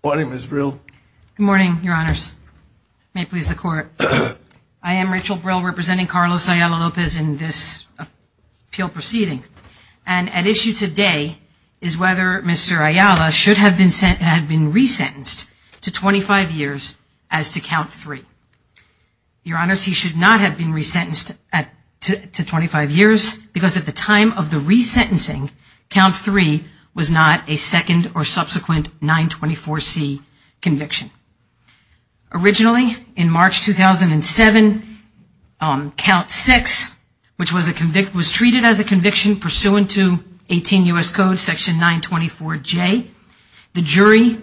Good morning, Ms. Brill. Good morning, your honors. May it please the best of luck to Ms. Ayala-Lopez in this appeal proceeding. And at issue today is whether Mr. Ayala should have been re-sentenced to 25 years as to count three. Your honors, he should not have been re-sentenced to 25 years because at the time of the re-sentencing, count three was not a second or subsequent 924C conviction. Originally, in March 2007, count six was treated as a conviction pursuant to 18 U.S. Code section 924J. The jury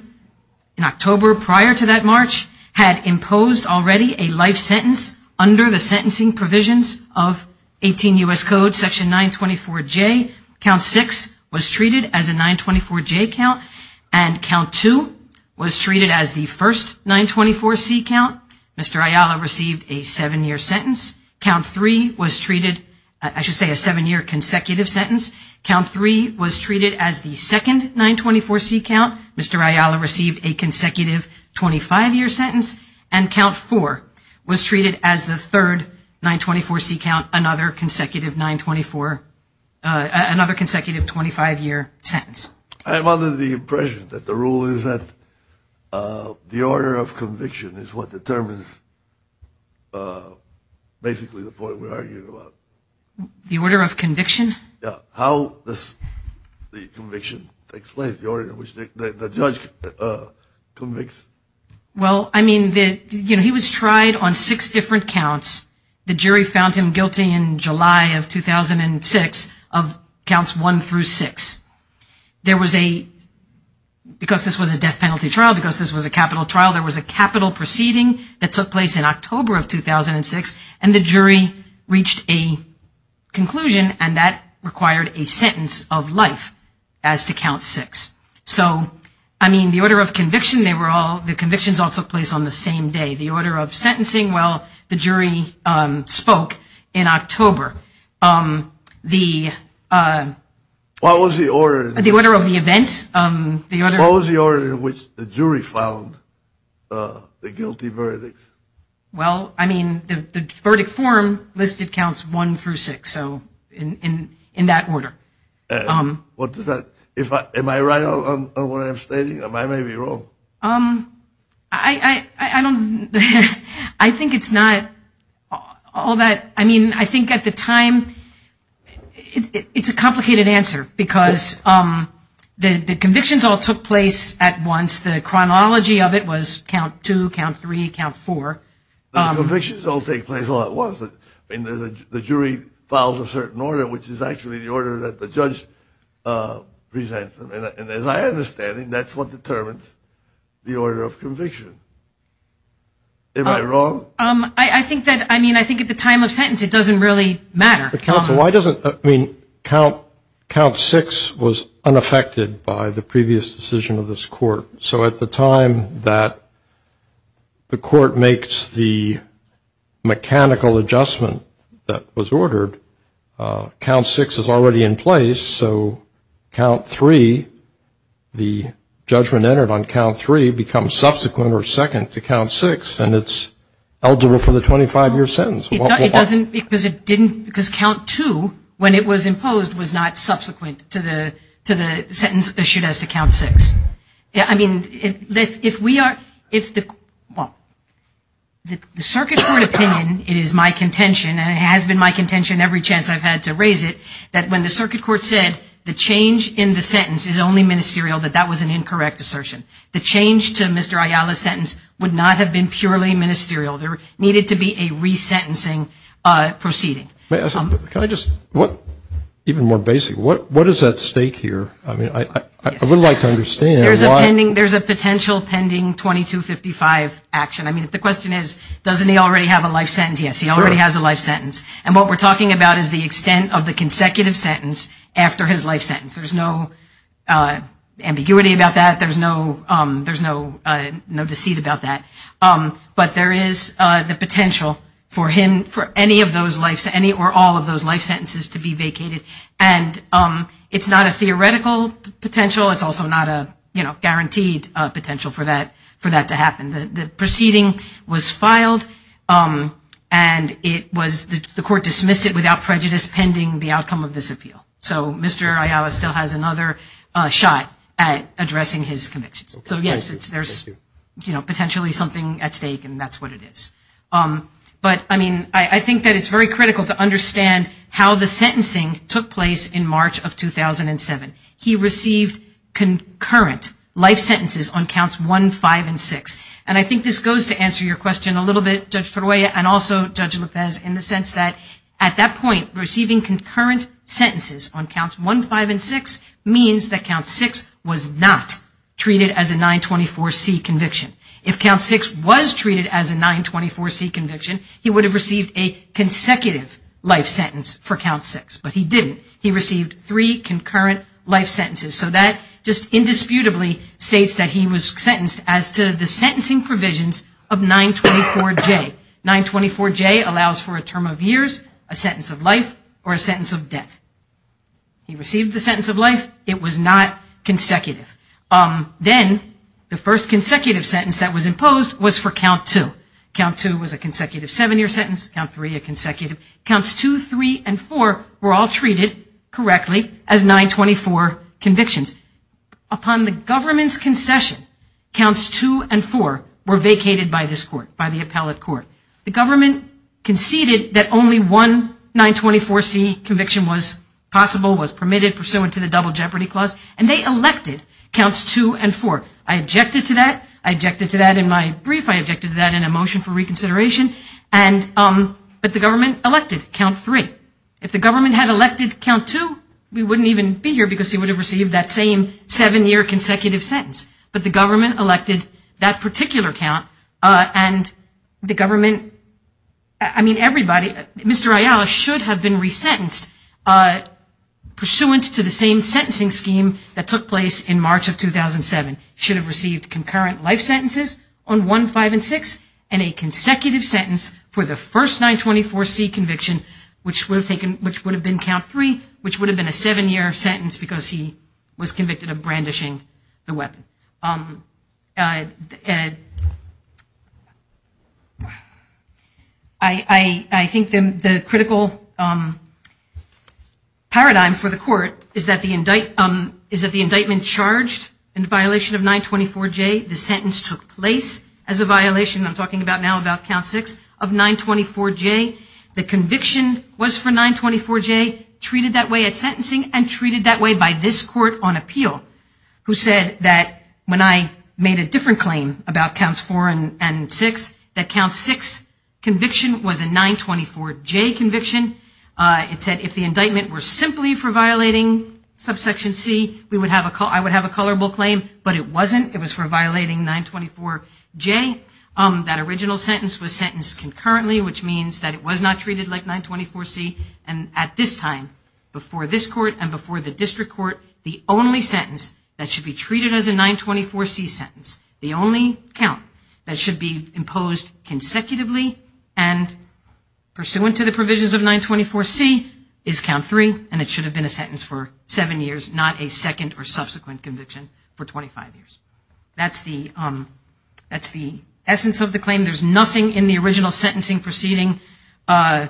in October prior to that March had imposed already a life sentence under the sentencing provisions of 18 U.S. Code section 924J. Count six was treated as first 924C count. Mr. Ayala received a seven-year sentence. Count three was treated, I should say a seven-year consecutive sentence. Count three was treated as the second 924C count. Mr. Ayala received a consecutive 25-year sentence. And count four was treated as the third 924C count, another consecutive 924, another consecutive 25-year sentence. I'm under the impression that the rule is that the order of conviction is what determines basically the point we're arguing about. The order of conviction? Yeah. How does the conviction take place? The order in which the judge convicts? Well, I mean, you know, he was tried on six different counts. The jury found him guilty in July of 2006 of counts one through six. There was a, because this was a death penalty trial, because this was a capital trial, there was a capital proceeding that took place in October of 2006, and the jury reached a conclusion, and that required a sentence of life as to count six. So, I mean, the order of conviction, they were all, the convictions all took place on the same day. The order of sentencing, well, the jury spoke in October. The... What was the order? The order of the events, the order... What was the order in which the jury found the guilty verdict? Well, I mean, the verdict form listed counts one through six, so in that order. What does that, if I, am I right on what I'm stating? Am I maybe wrong? Um, I don't, I think it's not all that, I mean, I think at the time, it's a complicated answer, because the convictions all took place at once. The chronology of it was count two, count three, count four. The convictions all take place all at once. I mean, the jury files a certain order, which is actually the order that the judge presents, and as I understand it, that's what determines the order of conviction. Am I wrong? Um, I think that, I mean, I think at the time of sentence, it doesn't really matter. But counsel, why doesn't, I mean, count six was unaffected by the previous decision of this court, so at the time that the court makes the mechanical adjustment that was ordered, count six is already in place, so count three, the judgment entered on count three becomes subsequent or second to count six, and it's eligible for the 25-year sentence. It doesn't, because it didn't, because count two, when it was imposed, was not subsequent to the sentence issued as to count six. Yeah, I mean, if we are, if the, well, the Circuit Court opinion, it is my contention, and it has been my contention every chance I've had to raise it, that when the Circuit Court said the change in the sentence is only ministerial, that that was an incorrect assertion. The change to Mr. Ayala's sentence would not have been purely ministerial. There needed to be a re-sentencing proceeding. May I ask, can I just, what, even more basic, what is at stake here? I mean, I would like to understand why. There's a potential pending 2255 action. I mean, the question is, doesn't he already have a life sentence? Yes, he already has a life sentence, and what we're talking about is the extent of the consecutive sentence after his life sentence. There's no ambiguity about that. There's no deceit about that, but there is the potential for him, for any of those life, any or all of those life sentences to be vacated, and it's not a theoretical potential. It's also not a, you know, guaranteed potential for that to happen. The proceeding was filed, and it was, the court dismissed it without prejudice pending the outcome of this appeal. So Mr. Ayala still has another shot at addressing his convictions. So yes, there's, you know, potentially something at stake, and that's what it is. But, I mean, I think that it's very critical to understand how the sentencing took place in March of 2007. He received concurrent life sentences on counts 1, 5, and 6, and I think this goes to answer your question a little bit, Judge Peruella, and also Judge Lopez, in the sense that at that point, receiving concurrent sentences on counts 1, 5, and 6 means that count 6 was not treated as a 924C conviction. If count 6 was treated as a 924C conviction, he would have received a consecutive life sentence for count 6, but he didn't. He received three concurrent life sentences. So that just indisputably states that he was sentenced as to the sentencing provisions of 924J. 924J allows for a term of years, a sentence of life, or a sentence of death. He received the sentence of life. It was not consecutive. Then, the first consecutive sentence that was imposed was for count 2. Count 2 was a consecutive seven-year sentence, count 3 a consecutive. Counts 2, 3, and 4 were all treated correctly as 924 convictions. Upon the government's concession, counts 2 and 4 were vacated by this court, by the appellate court. The government conceded that only one 924C conviction was possible, was permitted, pursuant to the Double Jeopardy Clause, and they elected counts 2 and 4. I objected to that in my brief, I objected to that in a motion for reconsideration, but the government elected count 3. If the government had elected count 2, we wouldn't even be here because he would have received that same seven-year consecutive sentence. But the government elected that particular count, and the government, I mean everybody, Mr. Ayala should have been resentenced pursuant to the same sentencing scheme that took place in March of 2007, should have received concurrent life sentences on 1, 5, and 6, and a consecutive sentence for the first 924C conviction, which would have been count 3, which would have been a seven-year sentence because he was convicted of brandishing the weapon. I think the critical paradigm for the court is that the indictment charged in violation of 924J, the sentence took place as a violation, I'm talking now about count 6, of 924J. The conviction was for 924J, treated that way at sentencing, and treated that way by this court on appeal, who said that when I made a different claim about counts 4 and 6, that count 6 conviction was a 924J conviction. It said if the indictment were simply for violating subsection C, I would have a colorable claim, but it wasn't, it was for violating 924J. That original sentence was sentenced concurrently, which means that it was not treated like 924C, and at this time, before this court and before the district court, the only sentence that should be treated as a 924C sentence, the only count that should be imposed consecutively, and pursuant to the provisions of 924C, is count 3, and it should have been a sentence for 7 years, not a second or subsequent conviction for 25 years. That's the essence of the claim. There's nothing in the original sentencing proceeding that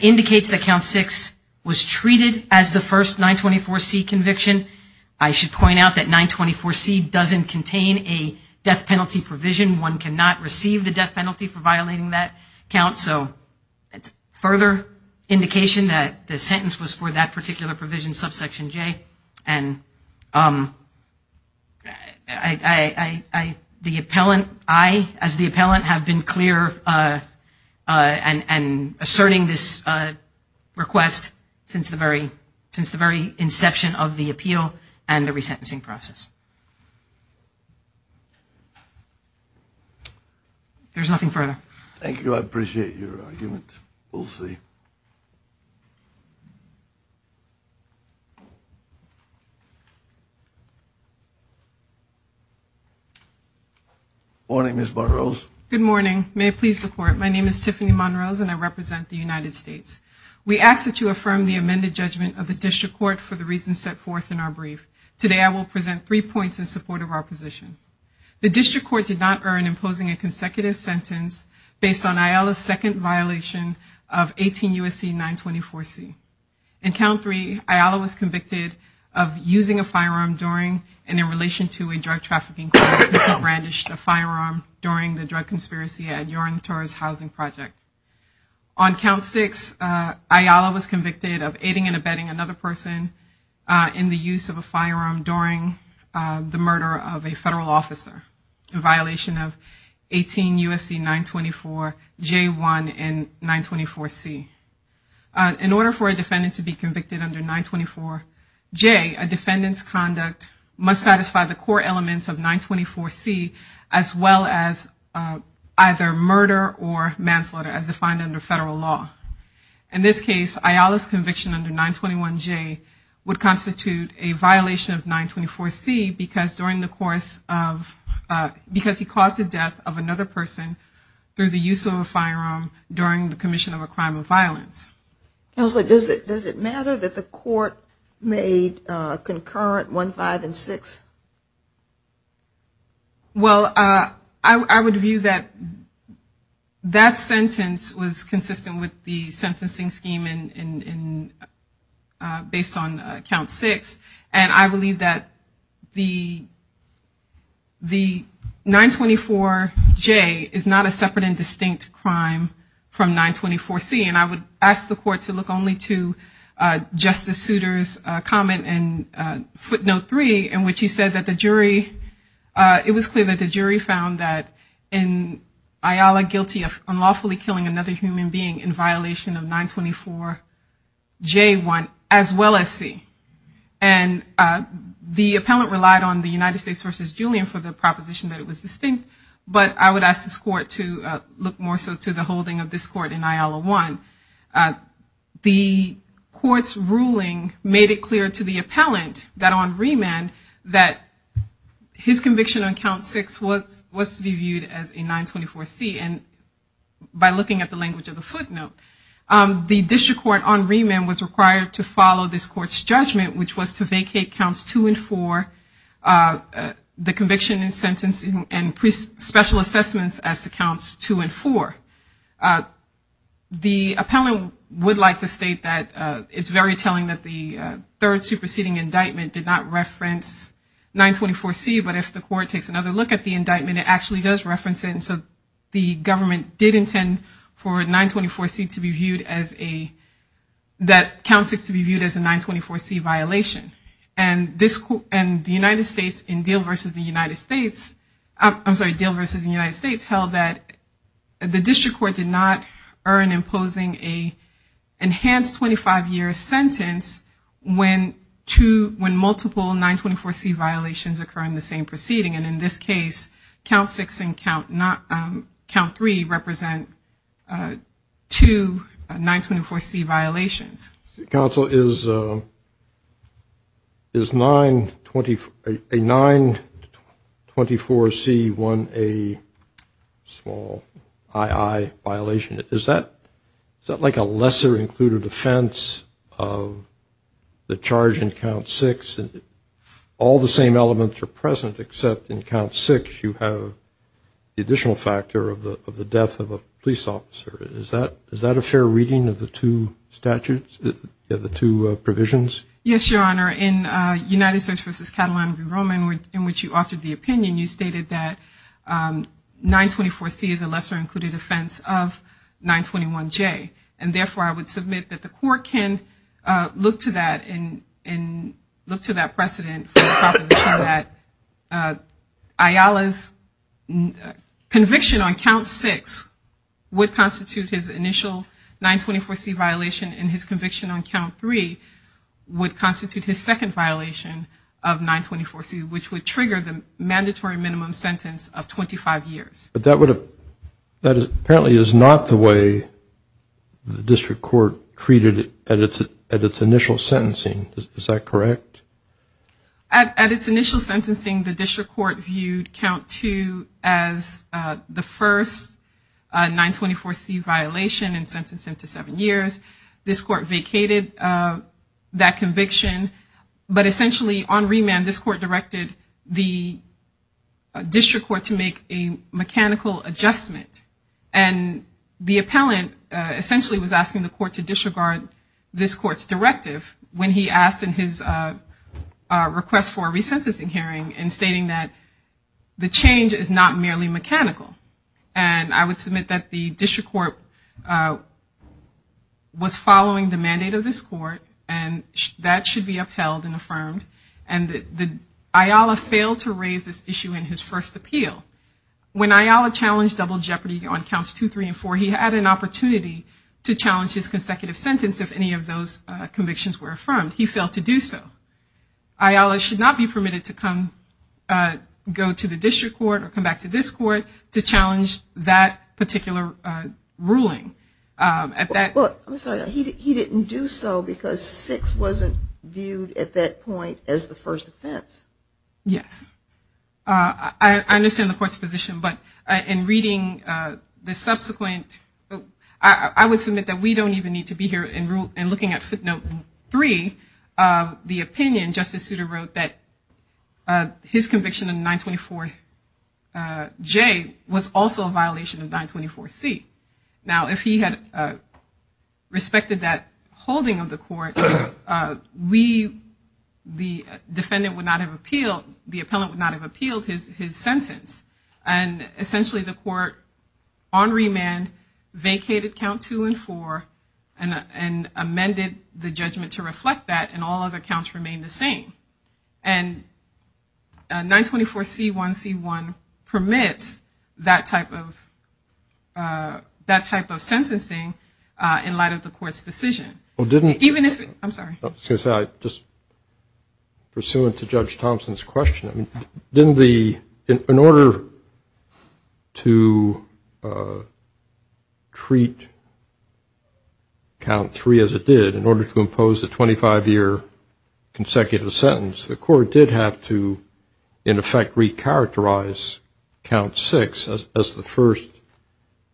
indicates that count 6 was treated as the first 924C conviction. I should point out that 924C doesn't contain a death penalty provision. One cannot receive the death penalty for violating that count, so it's a further indication that the sentence was for that particular provision, subsection J, and I as the appellant have been clear in asserting this request since the very inception of the case. There's nothing further. Thank you. I appreciate your argument. We'll see. Morning, Ms. Monroe. Good morning. May it please the court. My name is Tiffany Monroe, and I represent the United States. We ask that you affirm the amended judgment of the district court for the reasons set forth in our brief. Today, I will present three points in support of the district court did not earn imposing a consecutive sentence based on Ayala's second violation of 18 U.S.C. 924C. In count 3, Ayala was convicted of using a firearm during and in relation to a drug trafficking crime. He brandished a firearm during the drug conspiracy housing project. On count 6, Ayala was convicted of aiding and abetting another person in the use of a firearm during the murder of a federal officer in violation of 18 U.S.C. 924J1 and 924C. In order for a defendant to be convicted under 924J, a defendant's conduct must satisfy the core elements of 924C as well as either murder or manslaughter as defined under federal law. In this case, Ayala's conviction under 921J would constitute a violation of 924C because during the course of because he caused the death of another person through the use of a firearm during the commission of a crime of violence. Does it matter that the court made concurrent 1, 5, and 6? Well, I would view that that sentence was consistent with the sentencing scheme based on count 6. And I believe that the 924J is not a separate and distinct crime from 924C. And I would ask the court to look only to Justice Souter's comment in footnote 3 in which he said that the jury, it was clear that the jury found that in Ayala guilty of unlawfully killing another human being in violation of 924J1 as well as C. And the appellant relied on the United States v. Julian for the proposition that it was distinct, but I would ask this court to look more so to the holding of this court in Ayala 1. The court's ruling made it clear to the appellant that on remand that his conviction on count 6 was to be viewed as a 924C. And by looking at the language of the footnote, the district court on remand was required to follow this court's judgment which was to vacate counts 2 and 4, the conviction in sentencing and special assessments as to counts 2 and 4. The appellant would like to state that it's very telling that the third superseding indictment did not reference 924C, but if the court takes another look at the indictment, it actually does reference it. And so the government did intend for 924C to be viewed as a, that count 6 to be viewed as a 924C violation. And the United States in Deal v. the United States, I'm sorry, Deal v. the United States held that the district court did not earn imposing a enhanced 25-year sentence when two, when multiple 924C violations occur in the same proceeding. And in this case, count 6 and count 3 represent two 924C violations. Counsel, is a 924C one a small II? Is that like a lesser included offense of the charge in count 6? All the same elements are present except in count 6 you have the additional factor of the death of a police officer. Is that a fair reading of the two statutes, of the two provisions? Yes, Your Honor. In United States v. Catalina v. Roman in which you authored the opinion, you stated that 924C is a lesser included offense of 921J. And therefore, I would submit that the court can look to that and look to that precedent for the proposition that Ayala's conviction on count 6 would constitute his initial 924C violation and his conviction on count 3 would constitute his second violation of 924C which would trigger the mandatory minimum sentence of 25 years. But that apparently is not the way the district court treated it at its initial sentencing. Is that correct? At its initial sentencing, the district court viewed count 2 as the first 924C violation and sentenced him to 7 years. This court vacated that conviction, but essentially on remand this court directed the district court to make a mechanical adjustment and the appellant essentially was asking the court to disregard this court's directive when he asked in his request for a resentencing hearing and stating that the change is not merely mechanical. And I would submit that the district court was following the mandate of this court and that should be upheld and affirmed and that Ayala failed to raise this issue in his first appeal. When Ayala challenged double jeopardy on counts 2, 3, and 4, he had an opportunity to challenge his consecutive sentence if any of those convictions were affirmed. He failed to do so. Ayala should not be permitted to go to the district court or come back to this court to challenge that particular ruling. He didn't do so because 6 wasn't viewed at that point as the first offense. Yes. I understand the court's position, but in reading the subsequent, I would submit that we don't even need to be here in looking at footnote 3, the opinion Justice Souter wrote that his conviction of 924J was also a violation of 924C. Now if he had respected that holding of the court, we, the defendant, would not have been charged. The appellant would not have appealed his sentence and essentially the court on remand vacated count 2 and 4 and amended the judgment to reflect that and all other counts remained the same. And 924C1C1 permits that type of sentencing in light of the court's decision. In order to treat count 3 as it did, in order to impose a 25-year consecutive sentence, the court did have to, in effect, recharacterize count 6 as the first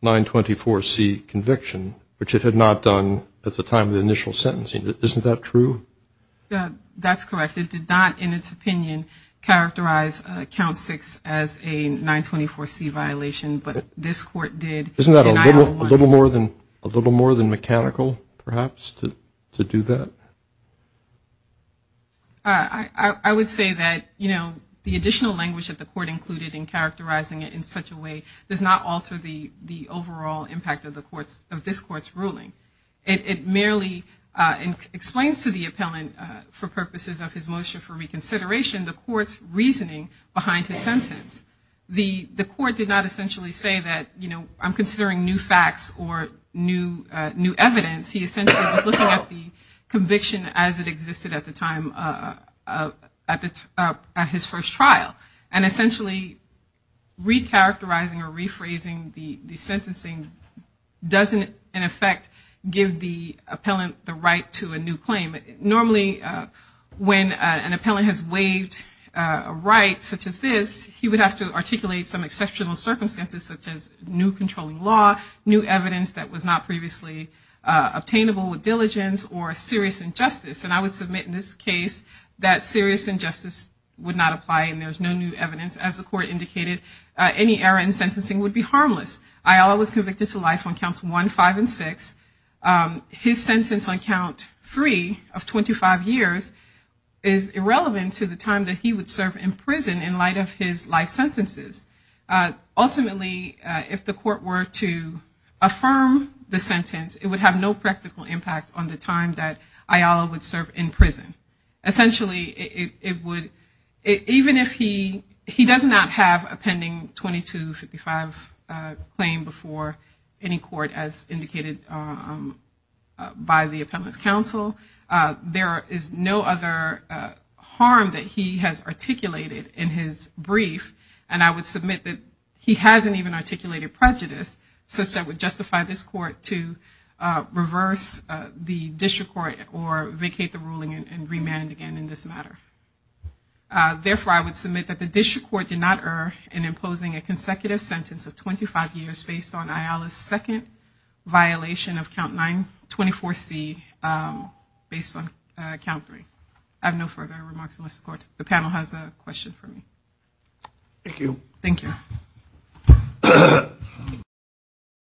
924C conviction, which it had not done at the time of the initial sentencing. Isn't that true? That's correct. It did not, in its opinion, characterize count 6 as a 924C violation, but this court did. Isn't that a little more than mechanical, perhaps, to do that? I would say that the additional language that the court included in characterizing it in such a way does not alter the overall impact of this court's ruling. It merely explains to the appellant, for purposes of his motion for reconsideration, the court's reasoning behind his sentence. The court did not essentially say that, you know, I'm considering new facts or new evidence. He essentially was looking at the conviction as it existed at the time of his first trial and essentially recharacterizing or recharacterizing the conviction does, in effect, give the appellant the right to a new claim. Normally, when an appellant has waived a right such as this, he would have to articulate some exceptional circumstances such as new controlling law, new evidence that was not previously obtainable with diligence, or a serious injustice. And I would submit in this case that serious injustice would not apply and there's no new evidence. As the court indicated, any error in sentencing would be harmless. Ayala was convicted to life on counts one, five, and six. His sentence on count three of 25 years is irrelevant to the time that he would serve in prison in light of his life sentences. Ultimately, if the court were to affirm the sentence, it would have no practical impact on the time that Ayala would serve in prison. Essentially, it would, even if he does not have a pending 2255 claim before any court as indicated by the Appellant's Counsel, there is no other harm that he has articulated in his brief. And I would submit that he hasn't even articulated prejudice such that would justify this court to reverse the district court or remand again in this matter. I have no further remarks unless the panel has a question for me.